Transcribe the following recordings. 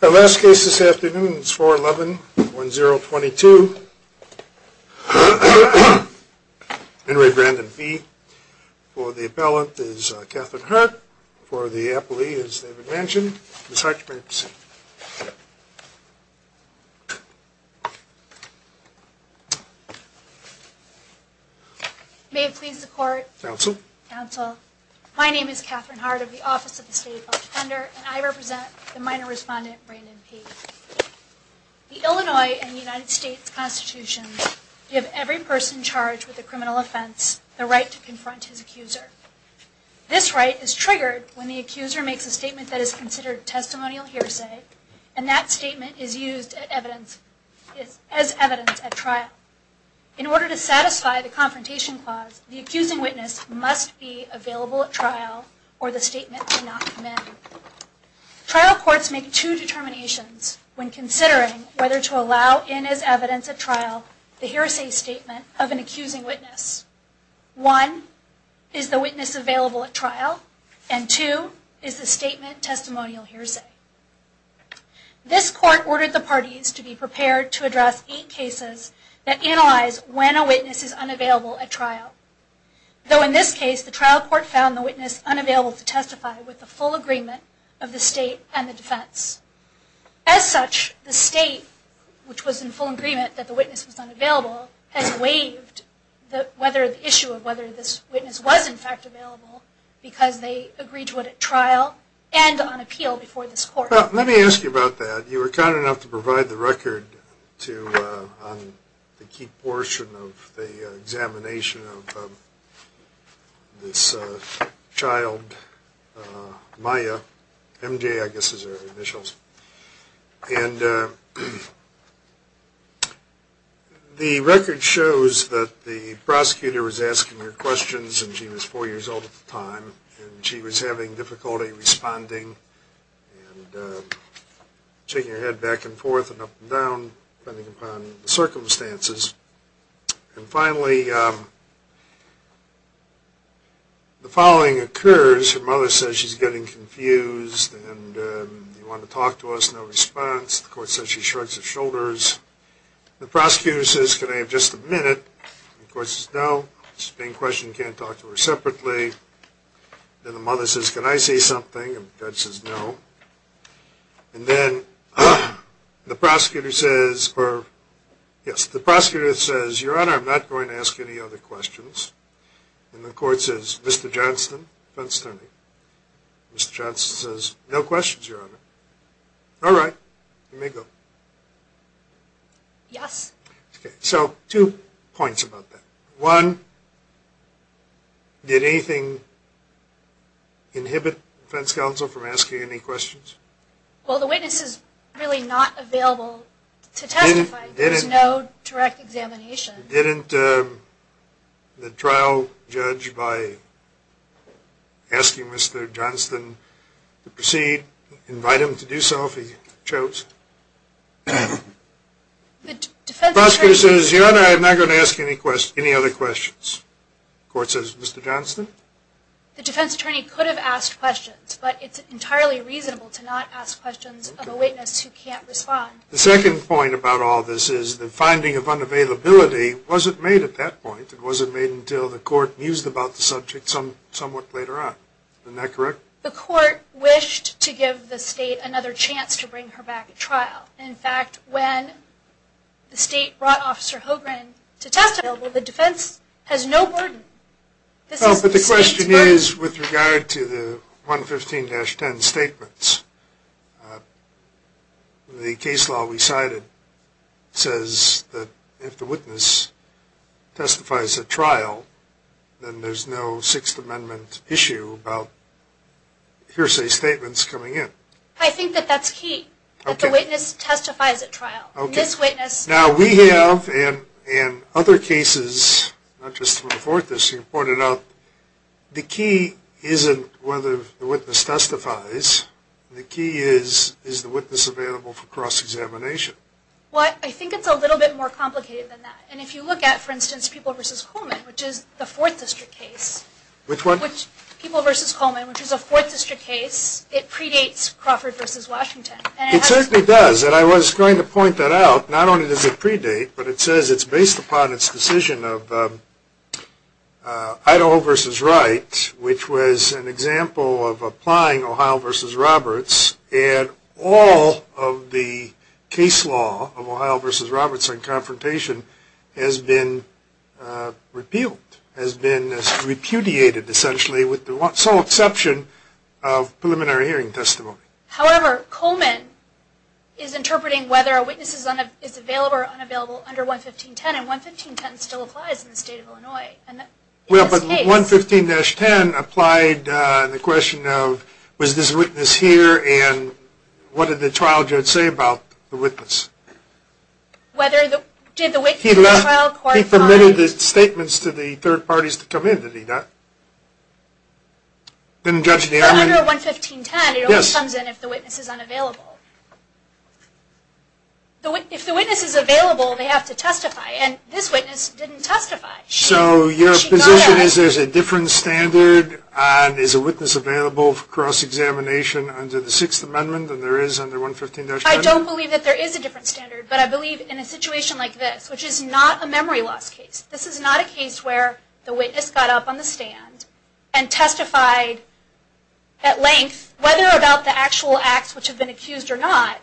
The last case this afternoon is 4111022, Henry Brandon P. For the appellant is Catherine Hart, for the appellee is David Manchin. Ms. Hart, you may proceed. May it please the court. Counsel. Counsel. My name is Catherine Hart of the Office of the State Defender, and I represent the minor respondent, Brandon P. The Illinois and the United States Constitution give every person charged with a criminal offense the right to confront his accuser. This right is triggered when the accuser makes a statement that is considered testimonial hearsay, and that statement is used as evidence at trial. In order to satisfy the confrontation clause, the accusing witness must be available at trial or the statement cannot be made. Trial courts make two determinations when considering whether to allow in as evidence at trial the hearsay statement of an accusing witness. One, is the witness available at trial? And two, is the statement testimonial hearsay? This court ordered the parties to be prepared to address eight cases that analyze when a witness is unavailable at trial. Though in this case, the trial court found the witness unavailable to testify with the full agreement of the state and the defense. As such, the state, which was in full agreement that the witness was unavailable, has waived the issue of whether this witness was in fact available because they agreed to it at trial and on appeal before this court. Let me ask you about that. You were kind enough to provide the record on the key portion of the examination of this child, Maya. MJ, I guess, is her initials. And the record shows that the prosecutor was asking her questions, and she was four years old at the time, and she was having difficulty responding and shaking her head back and forth and up and down, depending upon the circumstances. And finally, the following occurs. Her mother says she's getting confused and you want to talk to us, no response. The court says she shrugs her shoulders. The prosecutor says, can I have just a minute? The court says, no. This is a main question. You can't talk to her separately. Then the mother says, can I say something? And the judge says, no. And then the prosecutor says, Your Honor, I'm not going to ask any other questions. And the court says, Mr. Johnston? Mr. Johnston says, no questions, Your Honor. All right. You may go. Yes. So two points about that. One, did anything inhibit defense counsel from asking any questions? Well, the witness is really not available to testify. There's no direct examination. Didn't the trial judge, by asking Mr. Johnston to proceed, invite him to do so if he chose? The prosecutor says, Your Honor, I'm not going to ask any other questions. The court says, Mr. Johnston? The defense attorney could have asked questions, but it's entirely reasonable to not ask questions of a witness who can't respond. The second point about all this is the finding of unavailability wasn't made at that point. It wasn't made until the court mused about the subject somewhat later on. Isn't that correct? The court wished to give the state another chance to bring her back at trial. In fact, when the state brought Officer Hogan to testify, the defense has no burden. But the question is, with regard to the 115-10 statements, the case law we cited says that if the witness testifies at trial, then there's no Sixth Amendment issue about hearsay statements coming in. I think that that's key, that the witness testifies at trial. Now, we have, and other cases, not just before this, you pointed out, the key isn't whether the witness testifies. The key is, is the witness available for cross-examination? Well, I think it's a little bit more complicated than that. And if you look at, for instance, People v. Coleman, which is the Fourth District case. Which one? People v. Coleman, which is a Fourth District case. It predates Crawford v. Washington. It certainly does, and I was going to point that out. Not only does it predate, but it says it's based upon its decision of Idaho v. Wright, which was an example of applying Ohio v. Roberts, and all of the case law of Ohio v. Roberts in confrontation has been repealed, has been repudiated, essentially, with the sole exception of preliminary hearing testimony. However, Coleman is interpreting whether a witness is available or unavailable under 115.10, and 115.10 still applies in the state of Illinois. Well, but 115.10 applied the question of, was this witness here, and what did the trial judge say about the witness? He permitted the statements to the third parties to come in, did he not? Under 115.10, it only comes in if the witness is unavailable. If the witness is available, they have to testify, and this witness didn't testify. So your position is there's a different standard, and is a witness available for cross-examination under the Sixth Amendment than there is under 115.10? I don't believe that there is a different standard, but I believe in a situation like this, which is not a memory loss case, this is not a case where the witness got up on the stand and testified at length, whether about the actual acts which have been accused or not,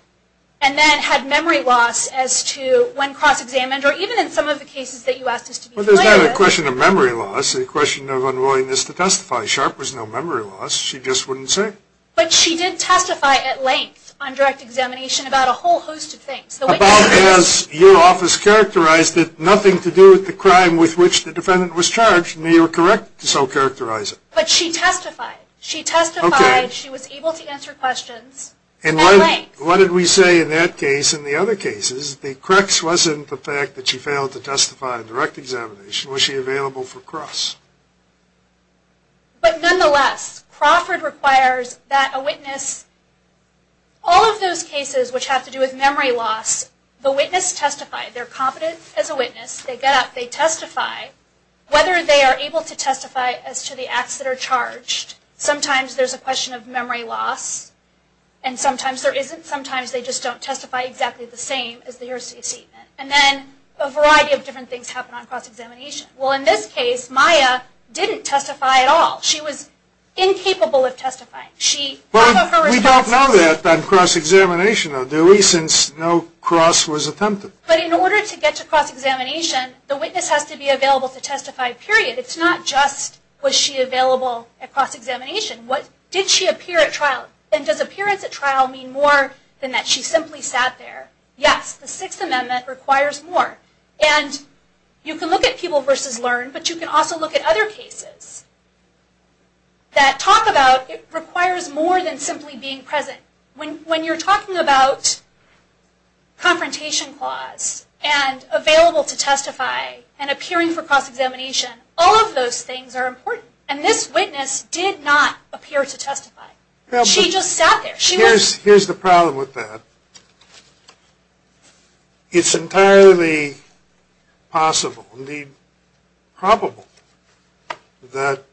and then had memory loss as to when cross-examined, or even in some of the cases that you asked us to be clear with. Well, it's not a question of memory loss, it's a question of unwillingness to testify. Sharp has no memory loss, she just wouldn't say. But she did testify at length on direct examination about a whole host of things. About as your office characterized it, nothing to do with the crime with which the defendant was charged, may you correct to so characterize it. But she testified. She testified. Okay. She was able to answer questions at length. And what did we say in that case and the other cases? The crux wasn't the fact that she failed to testify on direct examination. Was she available for cross? But nonetheless, Crawford requires that a witness, all of those cases which have to do with memory loss, the witness testified. They're competent as a witness. They got up, they testified. Whether they are able to testify as to the acts that are charged, sometimes there's a question of memory loss, and sometimes there isn't. Sometimes they just don't testify exactly the same as they're supposed to. And then a variety of different things happen on cross-examination. Well, in this case, Maya didn't testify at all. She was incapable of testifying. We don't know that on cross-examination, though, since no cross was attempted. But in order to get to cross-examination, the witness has to be available to testify, period. It's not just was she available at cross-examination. Did she appear at trial? And does appearance at trial mean more than that she simply sat there? Yes, the Sixth Amendment requires more. And you can look at people versus learn, but you can also look at other cases that talk about it requires more than simply being present. When you're talking about confrontation clause and available to testify and appearing for cross-examination, all of those things are important. And this witness did not appear to testify. She just sat there. Here's the problem with that. It's entirely possible, indeed probable, that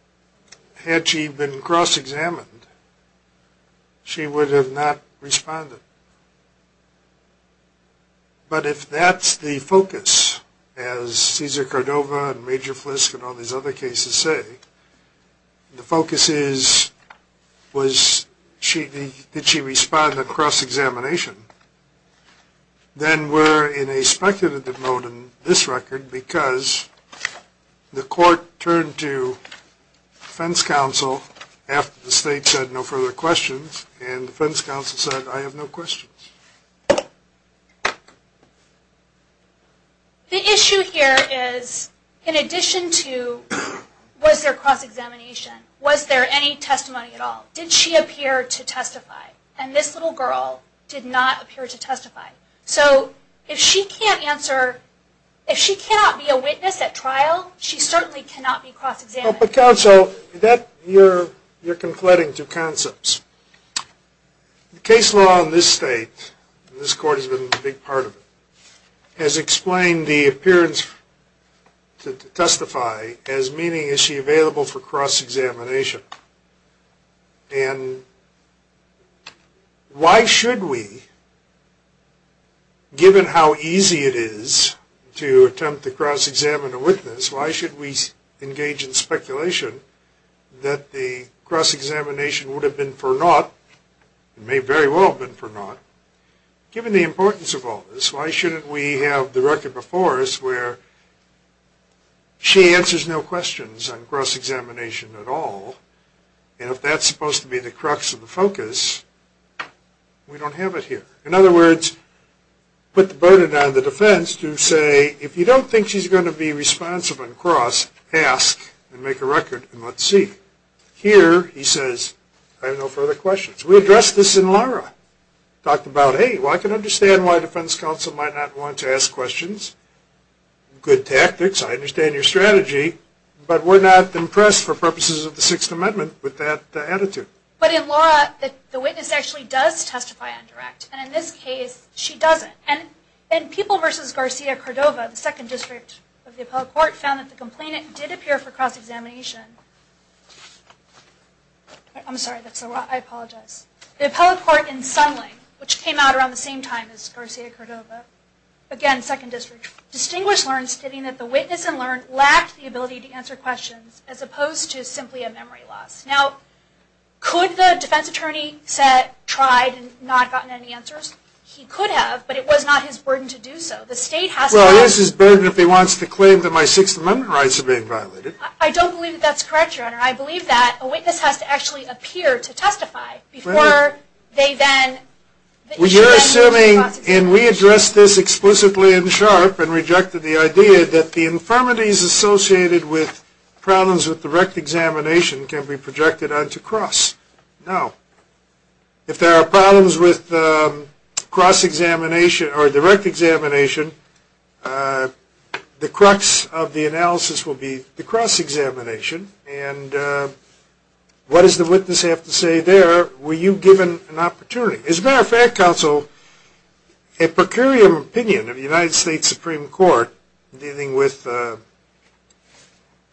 had she been cross-examined, she would have not responded. But if that's the focus, as Cesar Cordova and Major Flisk and all these other cases say, the focus is did she respond at cross-examination, then we're in a speculative mode in this record because the court turned to defense counsel after the state said no further questions, and defense counsel said I have no questions. The issue here is in addition to was there cross-examination, was there any testimony at all? Did she appear to testify? And this little girl did not appear to testify. So if she cannot be a witness at trial, she certainly cannot be cross-examined. But counsel, you're conflating two concepts. The case law in this state, and this court has been a big part of it, has explained the appearance to testify as meaning is she available for cross-examination. And why should we, given how easy it is to attempt to cross-examine a witness, why should we engage in speculation that the cross-examination would have been for naught, it may very well have been for naught. Given the importance of all this, why shouldn't we have the record before us where she answers no questions on cross-examination at all, and if that's supposed to be the crux of the focus, we don't have it here. In other words, put the burden on the defense to say, if you don't think she's going to be responsive on cross, ask and make a record and let's see. Here, he says, I have no further questions. We addressed this in Laura. Talked about, hey, well, I can understand why defense counsel might not want to ask questions. Good tactics. I understand your strategy. But we're not impressed, for purposes of the Sixth Amendment, with that attitude. But in Laura, the witness actually does testify on direct. And in this case, she doesn't. And people versus Garcia-Cordova, the Second District of the Appellate Court, found that the complainant did appear for cross-examination. I'm sorry, that's a lot. I apologize. The Appellate Court in Sundling, which came out around the same time as Garcia-Cordova, again, Second District, distinguished learns, stating that the witness and learned lacked the ability to answer questions, as opposed to simply a memory loss. Now, could the defense attorney have tried and not gotten any answers? He could have, but it was not his burden to do so. Well, it is his burden if he wants to claim that my Sixth Amendment rights are being violated. I don't believe that's correct, Your Honor. I believe that a witness has to actually appear to testify before they then issue a motion to cross-examine. You're assuming, and we addressed this explicitly in SHARP and rejected the idea, that the infirmities associated with problems with direct examination can be projected onto cross. No. If there are problems with cross-examination, or direct examination, the crux of the analysis will be the cross-examination, and what does the witness have to say there? Were you given an opportunity? As a matter of fact, Counsel, a per curiam opinion of the United States Supreme Court dealing with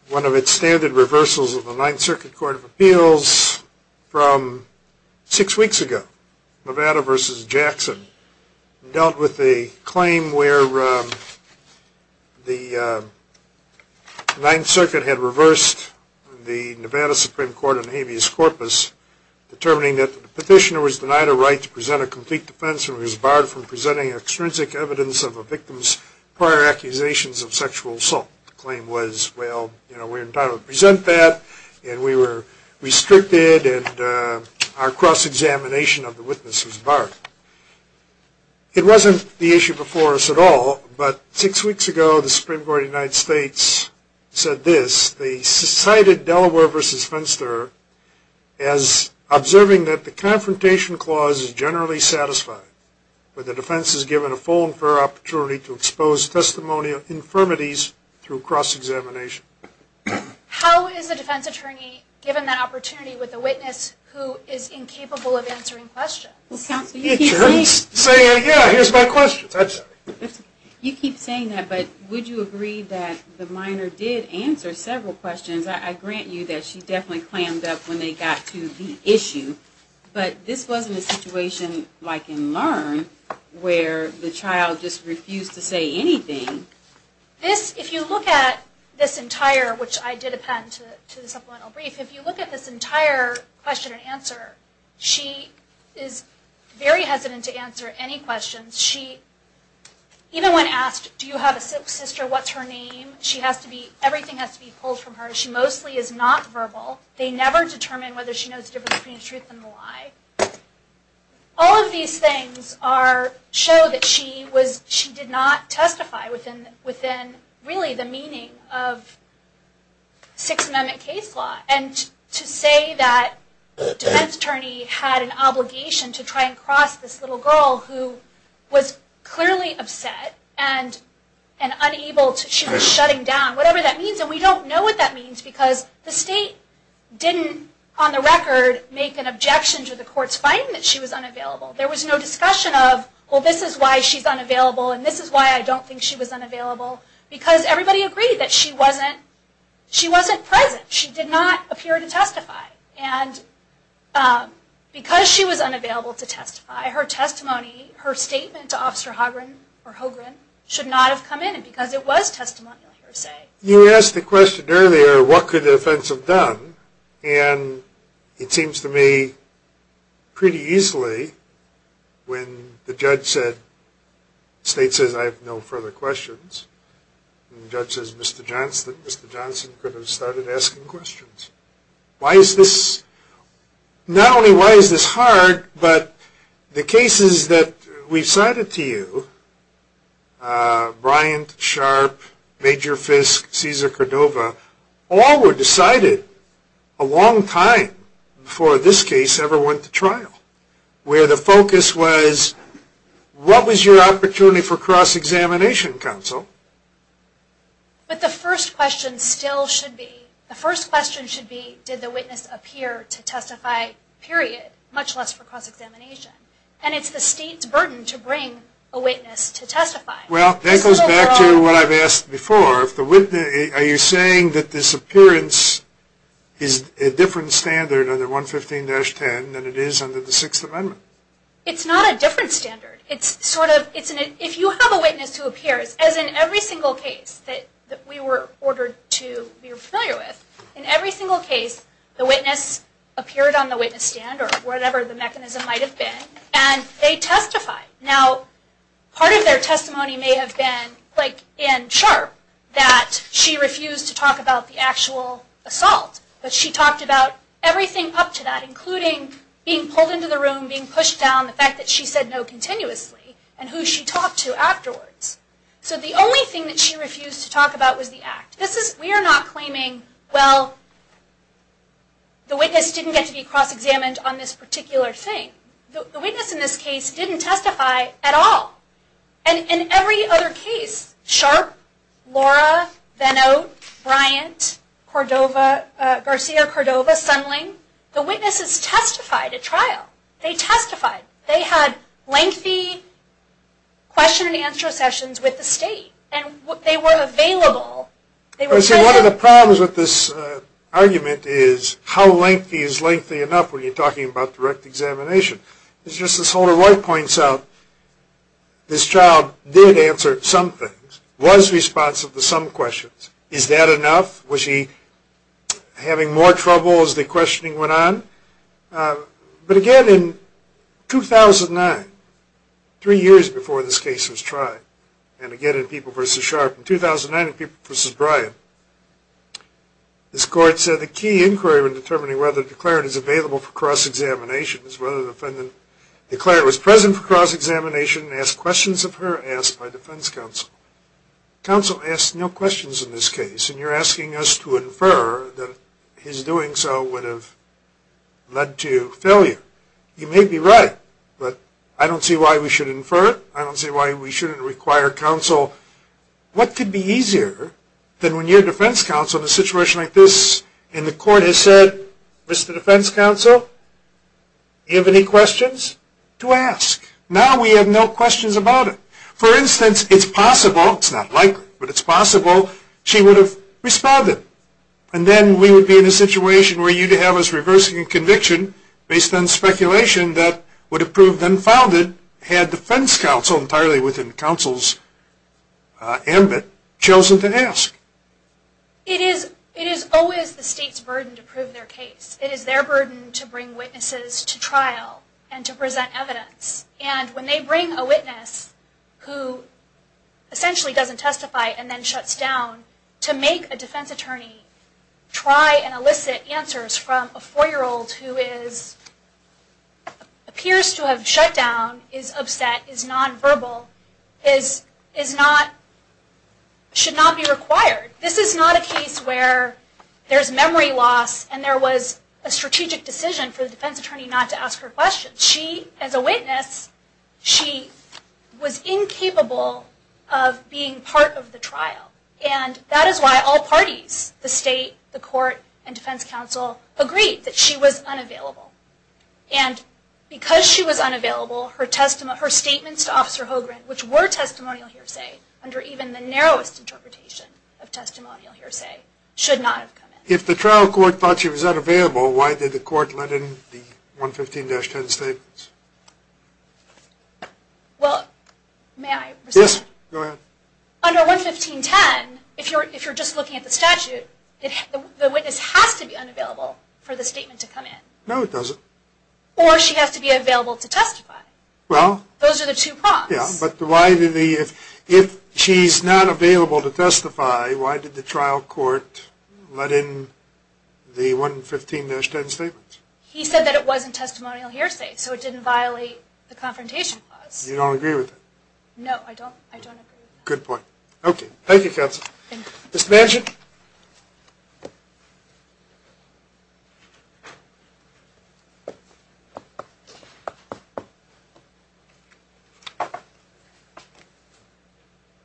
one of its standard reversals of the Ninth Circuit Court of Appeals from six weeks ago, Nevada v. Jackson, dealt with a claim where the Ninth Circuit had reversed the Nevada Supreme Court on habeas corpus, determining that the petitioner was denied a right to present a complete defense and was barred from presenting extrinsic evidence of a victim's prior accusations of sexual assault. The claim was, well, we're entitled to present that, and we were restricted, and our cross-examination of the witness was barred. It wasn't the issue before us at all, but six weeks ago the Supreme Court of the United States said this, they cited Delaware v. Fenster as observing that the confrontation clause is generally satisfied where the defense is given a full and fair opportunity to expose testimonial infirmities through cross-examination. How is a defense attorney given that opportunity with a witness who is incapable of answering questions? Counsel, you keep saying that, but would you agree that the minor did answer several questions? I grant you that she definitely clammed up when they got to the issue, but this wasn't a situation like in LEARN where the child just refused to say anything. If you look at this entire, which I did append to the supplemental brief, if you look at this entire question and answer, she is very hesitant to answer any questions. Even when asked, do you have a sister, what's her name, everything has to be pulled from her. She mostly is not verbal. They never determine whether she knows the difference between the truth and the lie. All of these things show that she did not testify within really the meaning of Sixth Amendment case law. And to say that the defense attorney had an obligation to try and cross this little girl who was clearly upset and unable to, she was shutting down, whatever that means. And we don't know what that means because the state didn't, on the record, make an objection to the court's finding that she was unavailable. There was no discussion of, well, this is why she's unavailable and this is why I don't think she was unavailable, because everybody agreed that she wasn't present. She did not appear to testify. And because she was unavailable to testify, her testimony, her statement to Officer Hogren should not have come in because it was testimonial, per se. You asked the question earlier, what could the defense have done? And it seems to me pretty easily when the judge said, the state says I have no further questions, and the judge says Mr. Johnson could have started asking questions. Why is this, not only why is this hard, but the cases that we've cited to you, Bryant, Sharp, Major Fisk, Cesar Cordova, all were decided a long time before this case ever went to trial, where the focus was what was your opportunity for cross-examination counsel? But the first question still should be, the first question should be did the witness appear to testify, period, much less for cross-examination. And it's the state's burden to bring a witness to testify. Well, that goes back to what I've asked before. Are you saying that this appearance is a different standard under 115-10 than it is under the Sixth Amendment? It's not a different standard. It's sort of, if you have a witness who appears, as in every single case that we were ordered to be familiar with, in every single case the witness appeared on the witness stand or whatever the mechanism might have been, and they testified. Now, part of their testimony may have been, like in Sharp, that she refused to talk about the actual assault. But she talked about everything up to that, including being pulled into the room, being pushed down, the fact that she said no continuously, and who she talked to afterwards. So the only thing that she refused to talk about was the act. We are not claiming, well, the witness didn't get to be cross-examined on this particular thing. The witness in this case didn't testify at all. And in every other case, Sharp, Laura, Benno, Bryant, Cordova, Garcia, Cordova, Sunling, the witnesses testified at trial. They testified. They had lengthy question-and-answer sessions with the state, and they were available. One of the problems with this argument is how lengthy is lengthy enough when you're talking about direct examination? As Justice Holder-Roy points out, this child did answer some things, was responsive to some questions. Is that enough? Was he having more trouble as the questioning went on? But again, in 2009, three years before this case was tried, and again in People v. Sharp, in 2009 in People v. Bryant, this court said the key inquiry in determining whether the declarant is available for cross-examination is whether the defendant declared it was present for cross-examination and asked questions of her asked by defense counsel. Counsel asked no questions in this case, and you're asking us to infer that his doing so would have led to failure. You may be right, but I don't see why we should infer it. I don't see why we shouldn't require counsel. What could be easier than when your defense counsel in a situation like this in the court has said, Mr. Defense Counsel, do you have any questions? To ask. Now we have no questions about it. For instance, it's possible, it's not likely, but it's possible, she would have responded, and then we would be in a situation where you'd have us reversing a conviction based on speculation that would have proved unfounded had defense counsel entirely within counsel's ambit chosen to ask. It is always the state's burden to prove their case. It is their burden to bring witnesses to trial and to present evidence, and when they bring a witness who essentially doesn't testify and then shuts down, to make a defense attorney try and elicit answers from a four-year-old who appears to have shut down, is upset, is nonverbal, should not be required. This is not a case where there's memory loss and there was a strategic decision for the defense attorney not to ask her questions. She, as a witness, she was incapable of being part of the trial, and that is why all parties, the state, the court, and defense counsel, agreed that she was unavailable. And because she was unavailable, her statements to Officer Hogren, which were testimonial hearsay, under even the narrowest interpretation of testimonial hearsay, should not have come in. If the trial court thought she was unavailable, why did the court let in the 115-10 statements? Well, may I respond? Yes, go ahead. Under 115-10, if you're just looking at the statute, the witness has to be unavailable for the statement to come in. No, it doesn't. Or she has to be available to testify. Those are the two prompts. Yes, but if she's not available to testify, why did the trial court let in the 115-10 statements? He said that it wasn't testimonial hearsay, so it didn't violate the confrontation clause. You don't agree with that? No, I don't agree with that. Good point. Okay, thank you, Counsel. Thank you. Mr. Manchin?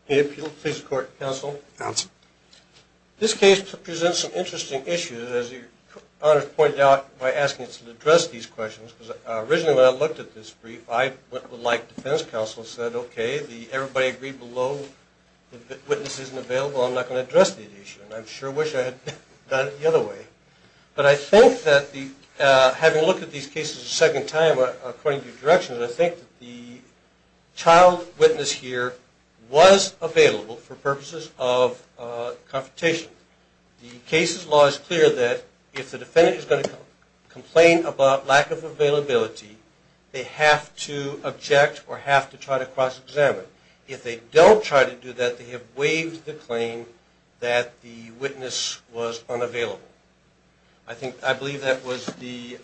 May it please the Court, Counsel? Counsel. This case presents an interesting issue, as your Honor pointed out, by asking us to address these questions, because originally when I looked at this brief, I, like Defense Counsel, said, okay, everybody agreed below, if the witness isn't available, I'm not going to address the issue. And I sure wish I had done it the other way. But I think that having looked at these cases a second time, according to your direction, I think that the child witness here was available for purposes of confrontation. The case's law is clear that if the defendant is going to complain about lack of availability, they have to object or have to try to cross-examine. If they don't try to do that, they have waived the claim that the witness was unavailable. I believe that was the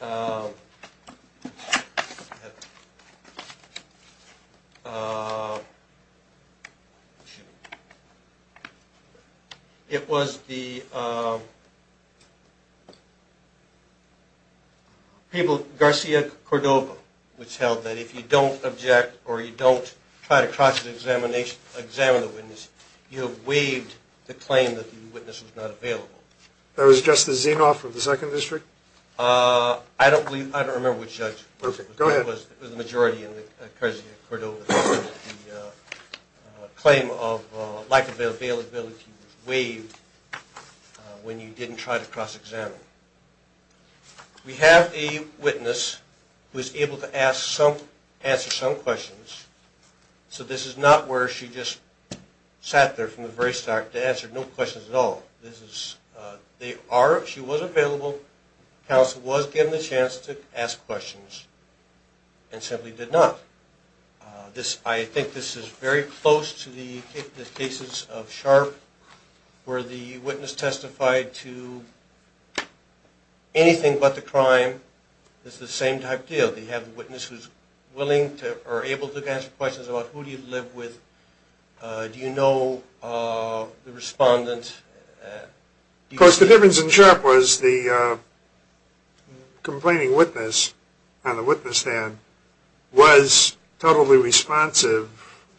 people, Garcia Cordova, which held that if you don't object or you don't try to cross-examine the witness, you have waived the claim that the witness was not available. That was Justice Zinoff of the Second District? I don't remember which judge. Go ahead. It was the majority in Garcia Cordova. The claim of lack of availability was waived when you didn't try to cross-examine. We have a witness who was able to answer some questions. So this is not where she just sat there from the very start to answer no questions at all. She was available. Counsel was given the chance to ask questions and simply did not. I think this is very close to the cases of Sharp where the witness testified to anything but the crime. It's the same type deal. They have a witness who's willing or able to answer questions about who do you live with? Do you know the respondent? Of course the difference in Sharp was the complaining witness on the witness stand was totally responsive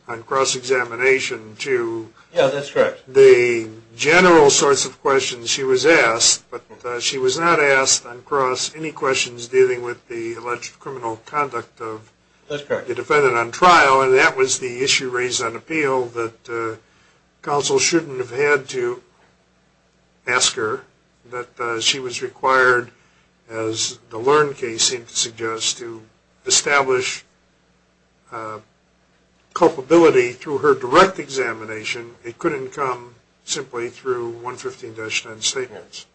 on cross-examination to the general sort of questions she was asked. But she was not asked on cross any questions dealing with the alleged criminal conduct of the defendant on trial. And that was the issue raised on appeal that counsel shouldn't have had to ask her. But she was required, as the Learn case seemed to suggest, to establish culpability through her direct examination. It couldn't come simply through 115-10 statements.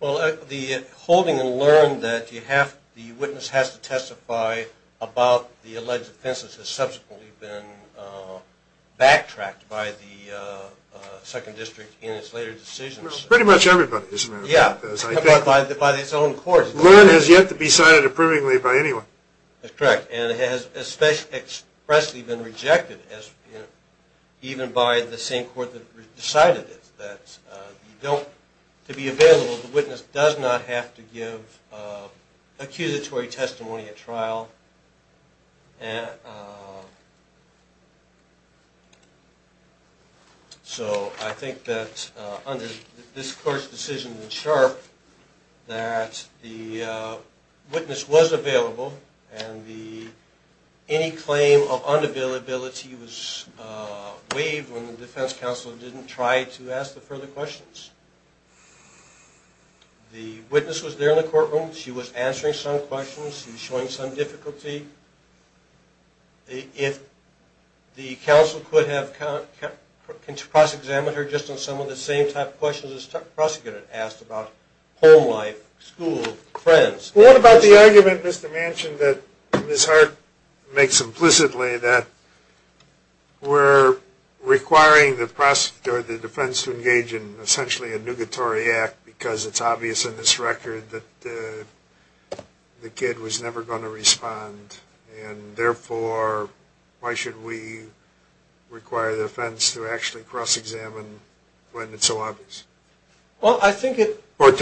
Well, the holding in Learn that the witness has to testify about the alleged offenses has subsequently been backtracked by the Second District in its later decisions. Pretty much everybody, isn't it? Yeah. By its own court. Learn has yet to be signed approvingly by anyone. That's correct. And it has expressly been rejected even by the same court that decided it. To be available, the witness does not have to give accusatory testimony at trial. So I think that under this court's decision in Sharp that the witness was available and any claim of unavailability was waived when the defense counsel didn't try to ask the further questions. The witness was there in the courtroom. She was answering some questions. She was showing some difficulty. If the counsel could have cross-examined her just on some of the same type of questions the prosecutor had asked about home life, school, friends. What about the argument, Mr. Manchin, that Ms. Hart makes implicitly that we're requiring the defense to engage in essentially a nugatory act because it's obvious in this record that the kid was never going to respond. And therefore, why should we require the defense to actually cross-examine when it's so obvious? I think, like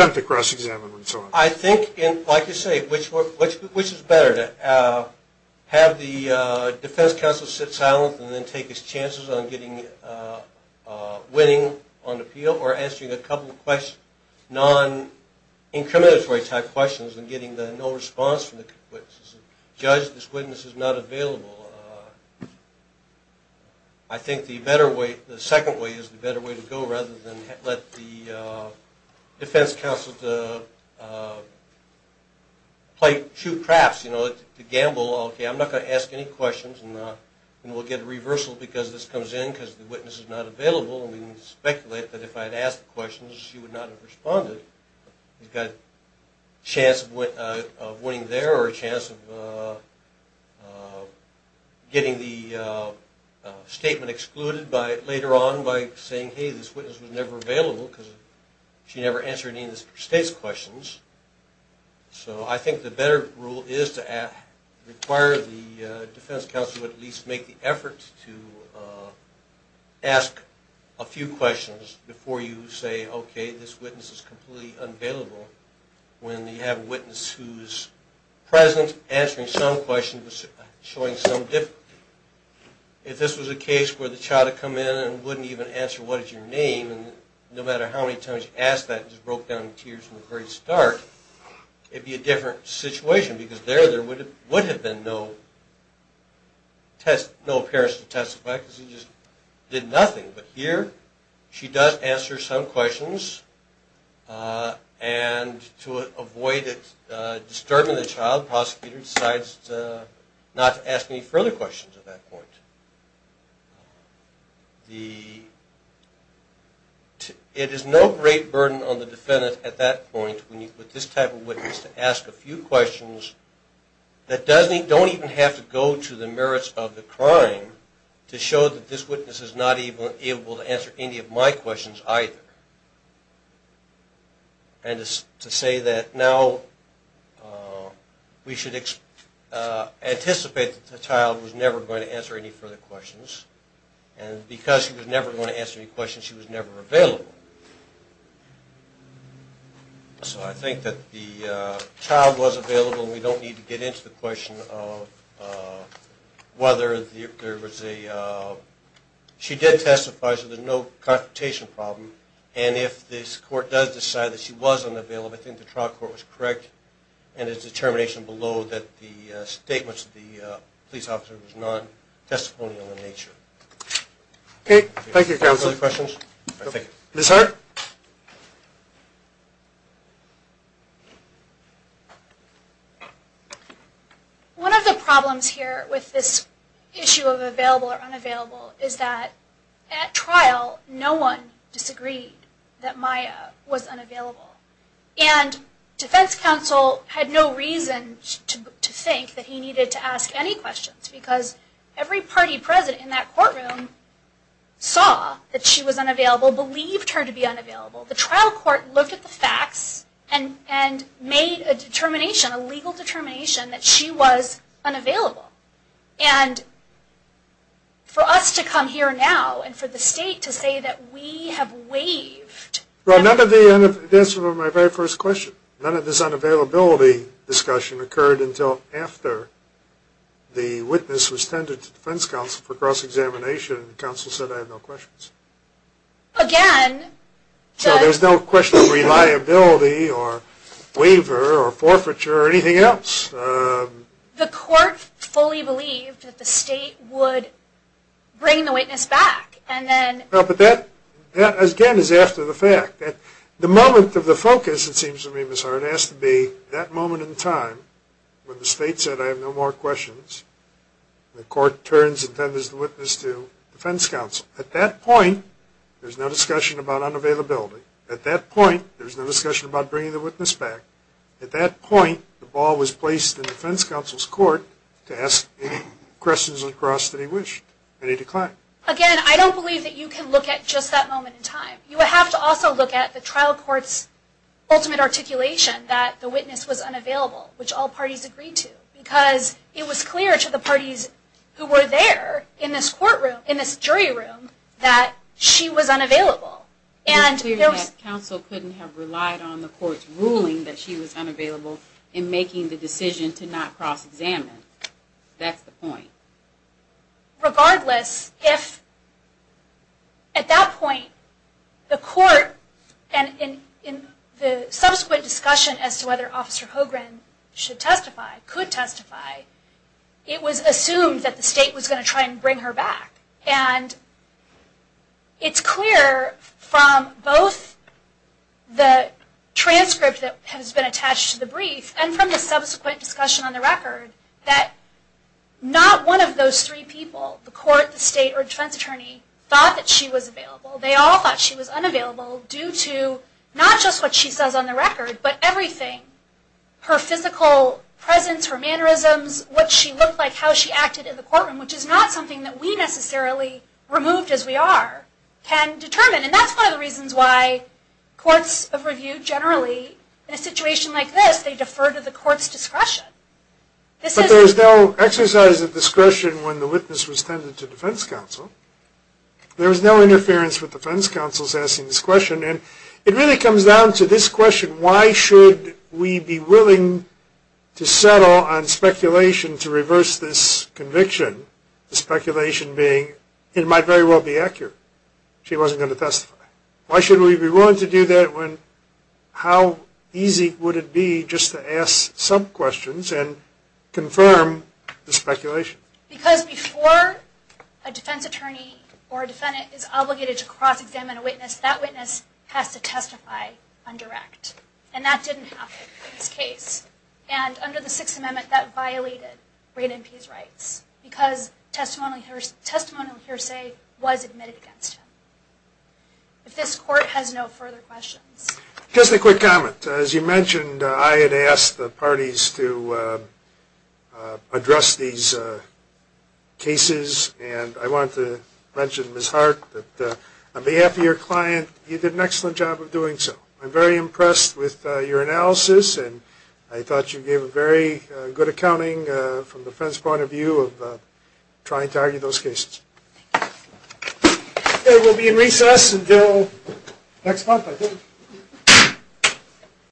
you say, which is better? To have the defense counsel sit silent and then take his chances on winning on appeal or answering a couple of non-incriminatory type questions and getting the no response from the witness. As a judge, this witness is not available. I think the second way is the better way to go rather than let the defense counsel play two craps to gamble, okay, I'm not going to ask any questions and we'll get a reversal because this comes in because the witness is not available and we can speculate that if I had asked the questions, she would not have responded. We've got a chance of winning there or a chance of getting the statement excluded later on by saying, hey, this witness was never available because she never answered any of the state's questions. So I think the better rule is to require the defense counsel to at least make the effort to ask a few questions before you say, okay, this witness is completely unavailable. When you have a witness who's present, answering some questions, showing some difficulty. If this was a case where the child had come in and wouldn't even answer what you said, your name, no matter how many times you asked that and just broke down in tears from the very start, it would be a different situation because there would have been no appearance to testify because you just did nothing. But here she does answer some questions and to avoid disturbing the child, the prosecutor decides not to ask any further questions at that point. It is no great burden on the defendant at that point when you put this type of witness to ask a few questions that don't even have to go to the merits of the crime to show that this witness is not able to answer any of my questions either. And to say that now we should anticipate that the child was never going to answer any further questions and because she was never going to answer any questions, she was never available. So I think that the child was available and we don't need to get into the question of whether there was a, she did testify, so there's no confrontation problem. And if this court does decide that she was unavailable, I think the trial court was correct and its determination below that the statements of the police officer was non-testimonial in nature. Okay, thank you counsel. Other questions? Ms. Hart? One of the problems here with this issue of available or unavailable is that at trial no one disagreed that Maya was unavailable. And defense counsel had no reason to think that he needed to ask any questions because every party president in that courtroom saw that she was unavailable, believed her to be unavailable. The trial court looked at the facts and made a determination, a legal determination that she was unavailable. And for us to come here now and for the state to say that we have waived Well none of the answers to my very first question, none of this unavailability discussion occurred until after the witness was tended to defense counsel for cross-examination and counsel said I have no questions. Again, So there's no question of reliability or waiver or forfeiture or anything else? The court fully believed that the state would bring the witness back and then But that again is after the fact. The moment of the focus it seems to me, Ms. Hart, has to be that moment in time when the state said I have no more questions, the court turns and tenders the witness to defense counsel. At that point there's no discussion about unavailability. At that point there's no discussion about bringing the witness back. At that point the ball was placed in defense counsel's court to ask any questions across that he wished. And he declined. Again, I don't believe that you can look at just that moment in time. You have to also look at the trial court's ultimate articulation that the witness was unavailable, which all parties agreed to. Because it was clear to the parties who were there in this courtroom, in this jury room, that she was unavailable. It was clear that counsel couldn't have relied on the court's ruling that she was unavailable in making the decision to not cross-examine. That's the point. Regardless, if at that point the court, and in the subsequent discussion as to whether Officer Hogren should testify, could testify, it was assumed that the state was going to try and bring her back. And it's clear from both the transcript that has been attached to the brief and from the subsequent discussion on the record that not one of those three people, the court, the state, or defense attorney, thought that she was available. They all thought she was unavailable due to not just what she says on the record, but everything. Her physical presence, her mannerisms, what she looked like, how she acted in the courtroom, which is not something that we necessarily, removed as we are, can determine. And that's one of the reasons why courts of review generally, in a situation like this, they defer to the court's discretion. But there was no exercise of discretion when the witness was tended to defense counsel. There was no interference with defense counsel's asking this question. And it really comes down to this question, why should we be willing to question, the speculation being, it might very well be accurate. She wasn't going to testify. Why should we be willing to do that when how easy would it be just to ask some questions and confirm the speculation? Because before a defense attorney or a defendant is obligated to cross-examine a witness, that witness has to testify undirect. And that didn't happen in this case. And under the Sixth Amendment, that violated great MP's rights because testimonial hearsay was admitted against him. If this court has no further questions. Just a quick comment. As you mentioned, I had asked the parties to address these cases. And I wanted to mention, Ms. Hart, that on behalf of your client, you did an excellent job of doing so. I'm very impressed with your analysis. And I thought you gave a very good accounting from the defense point of view of trying to argue those cases. Okay. We'll be in recess until next month, I think.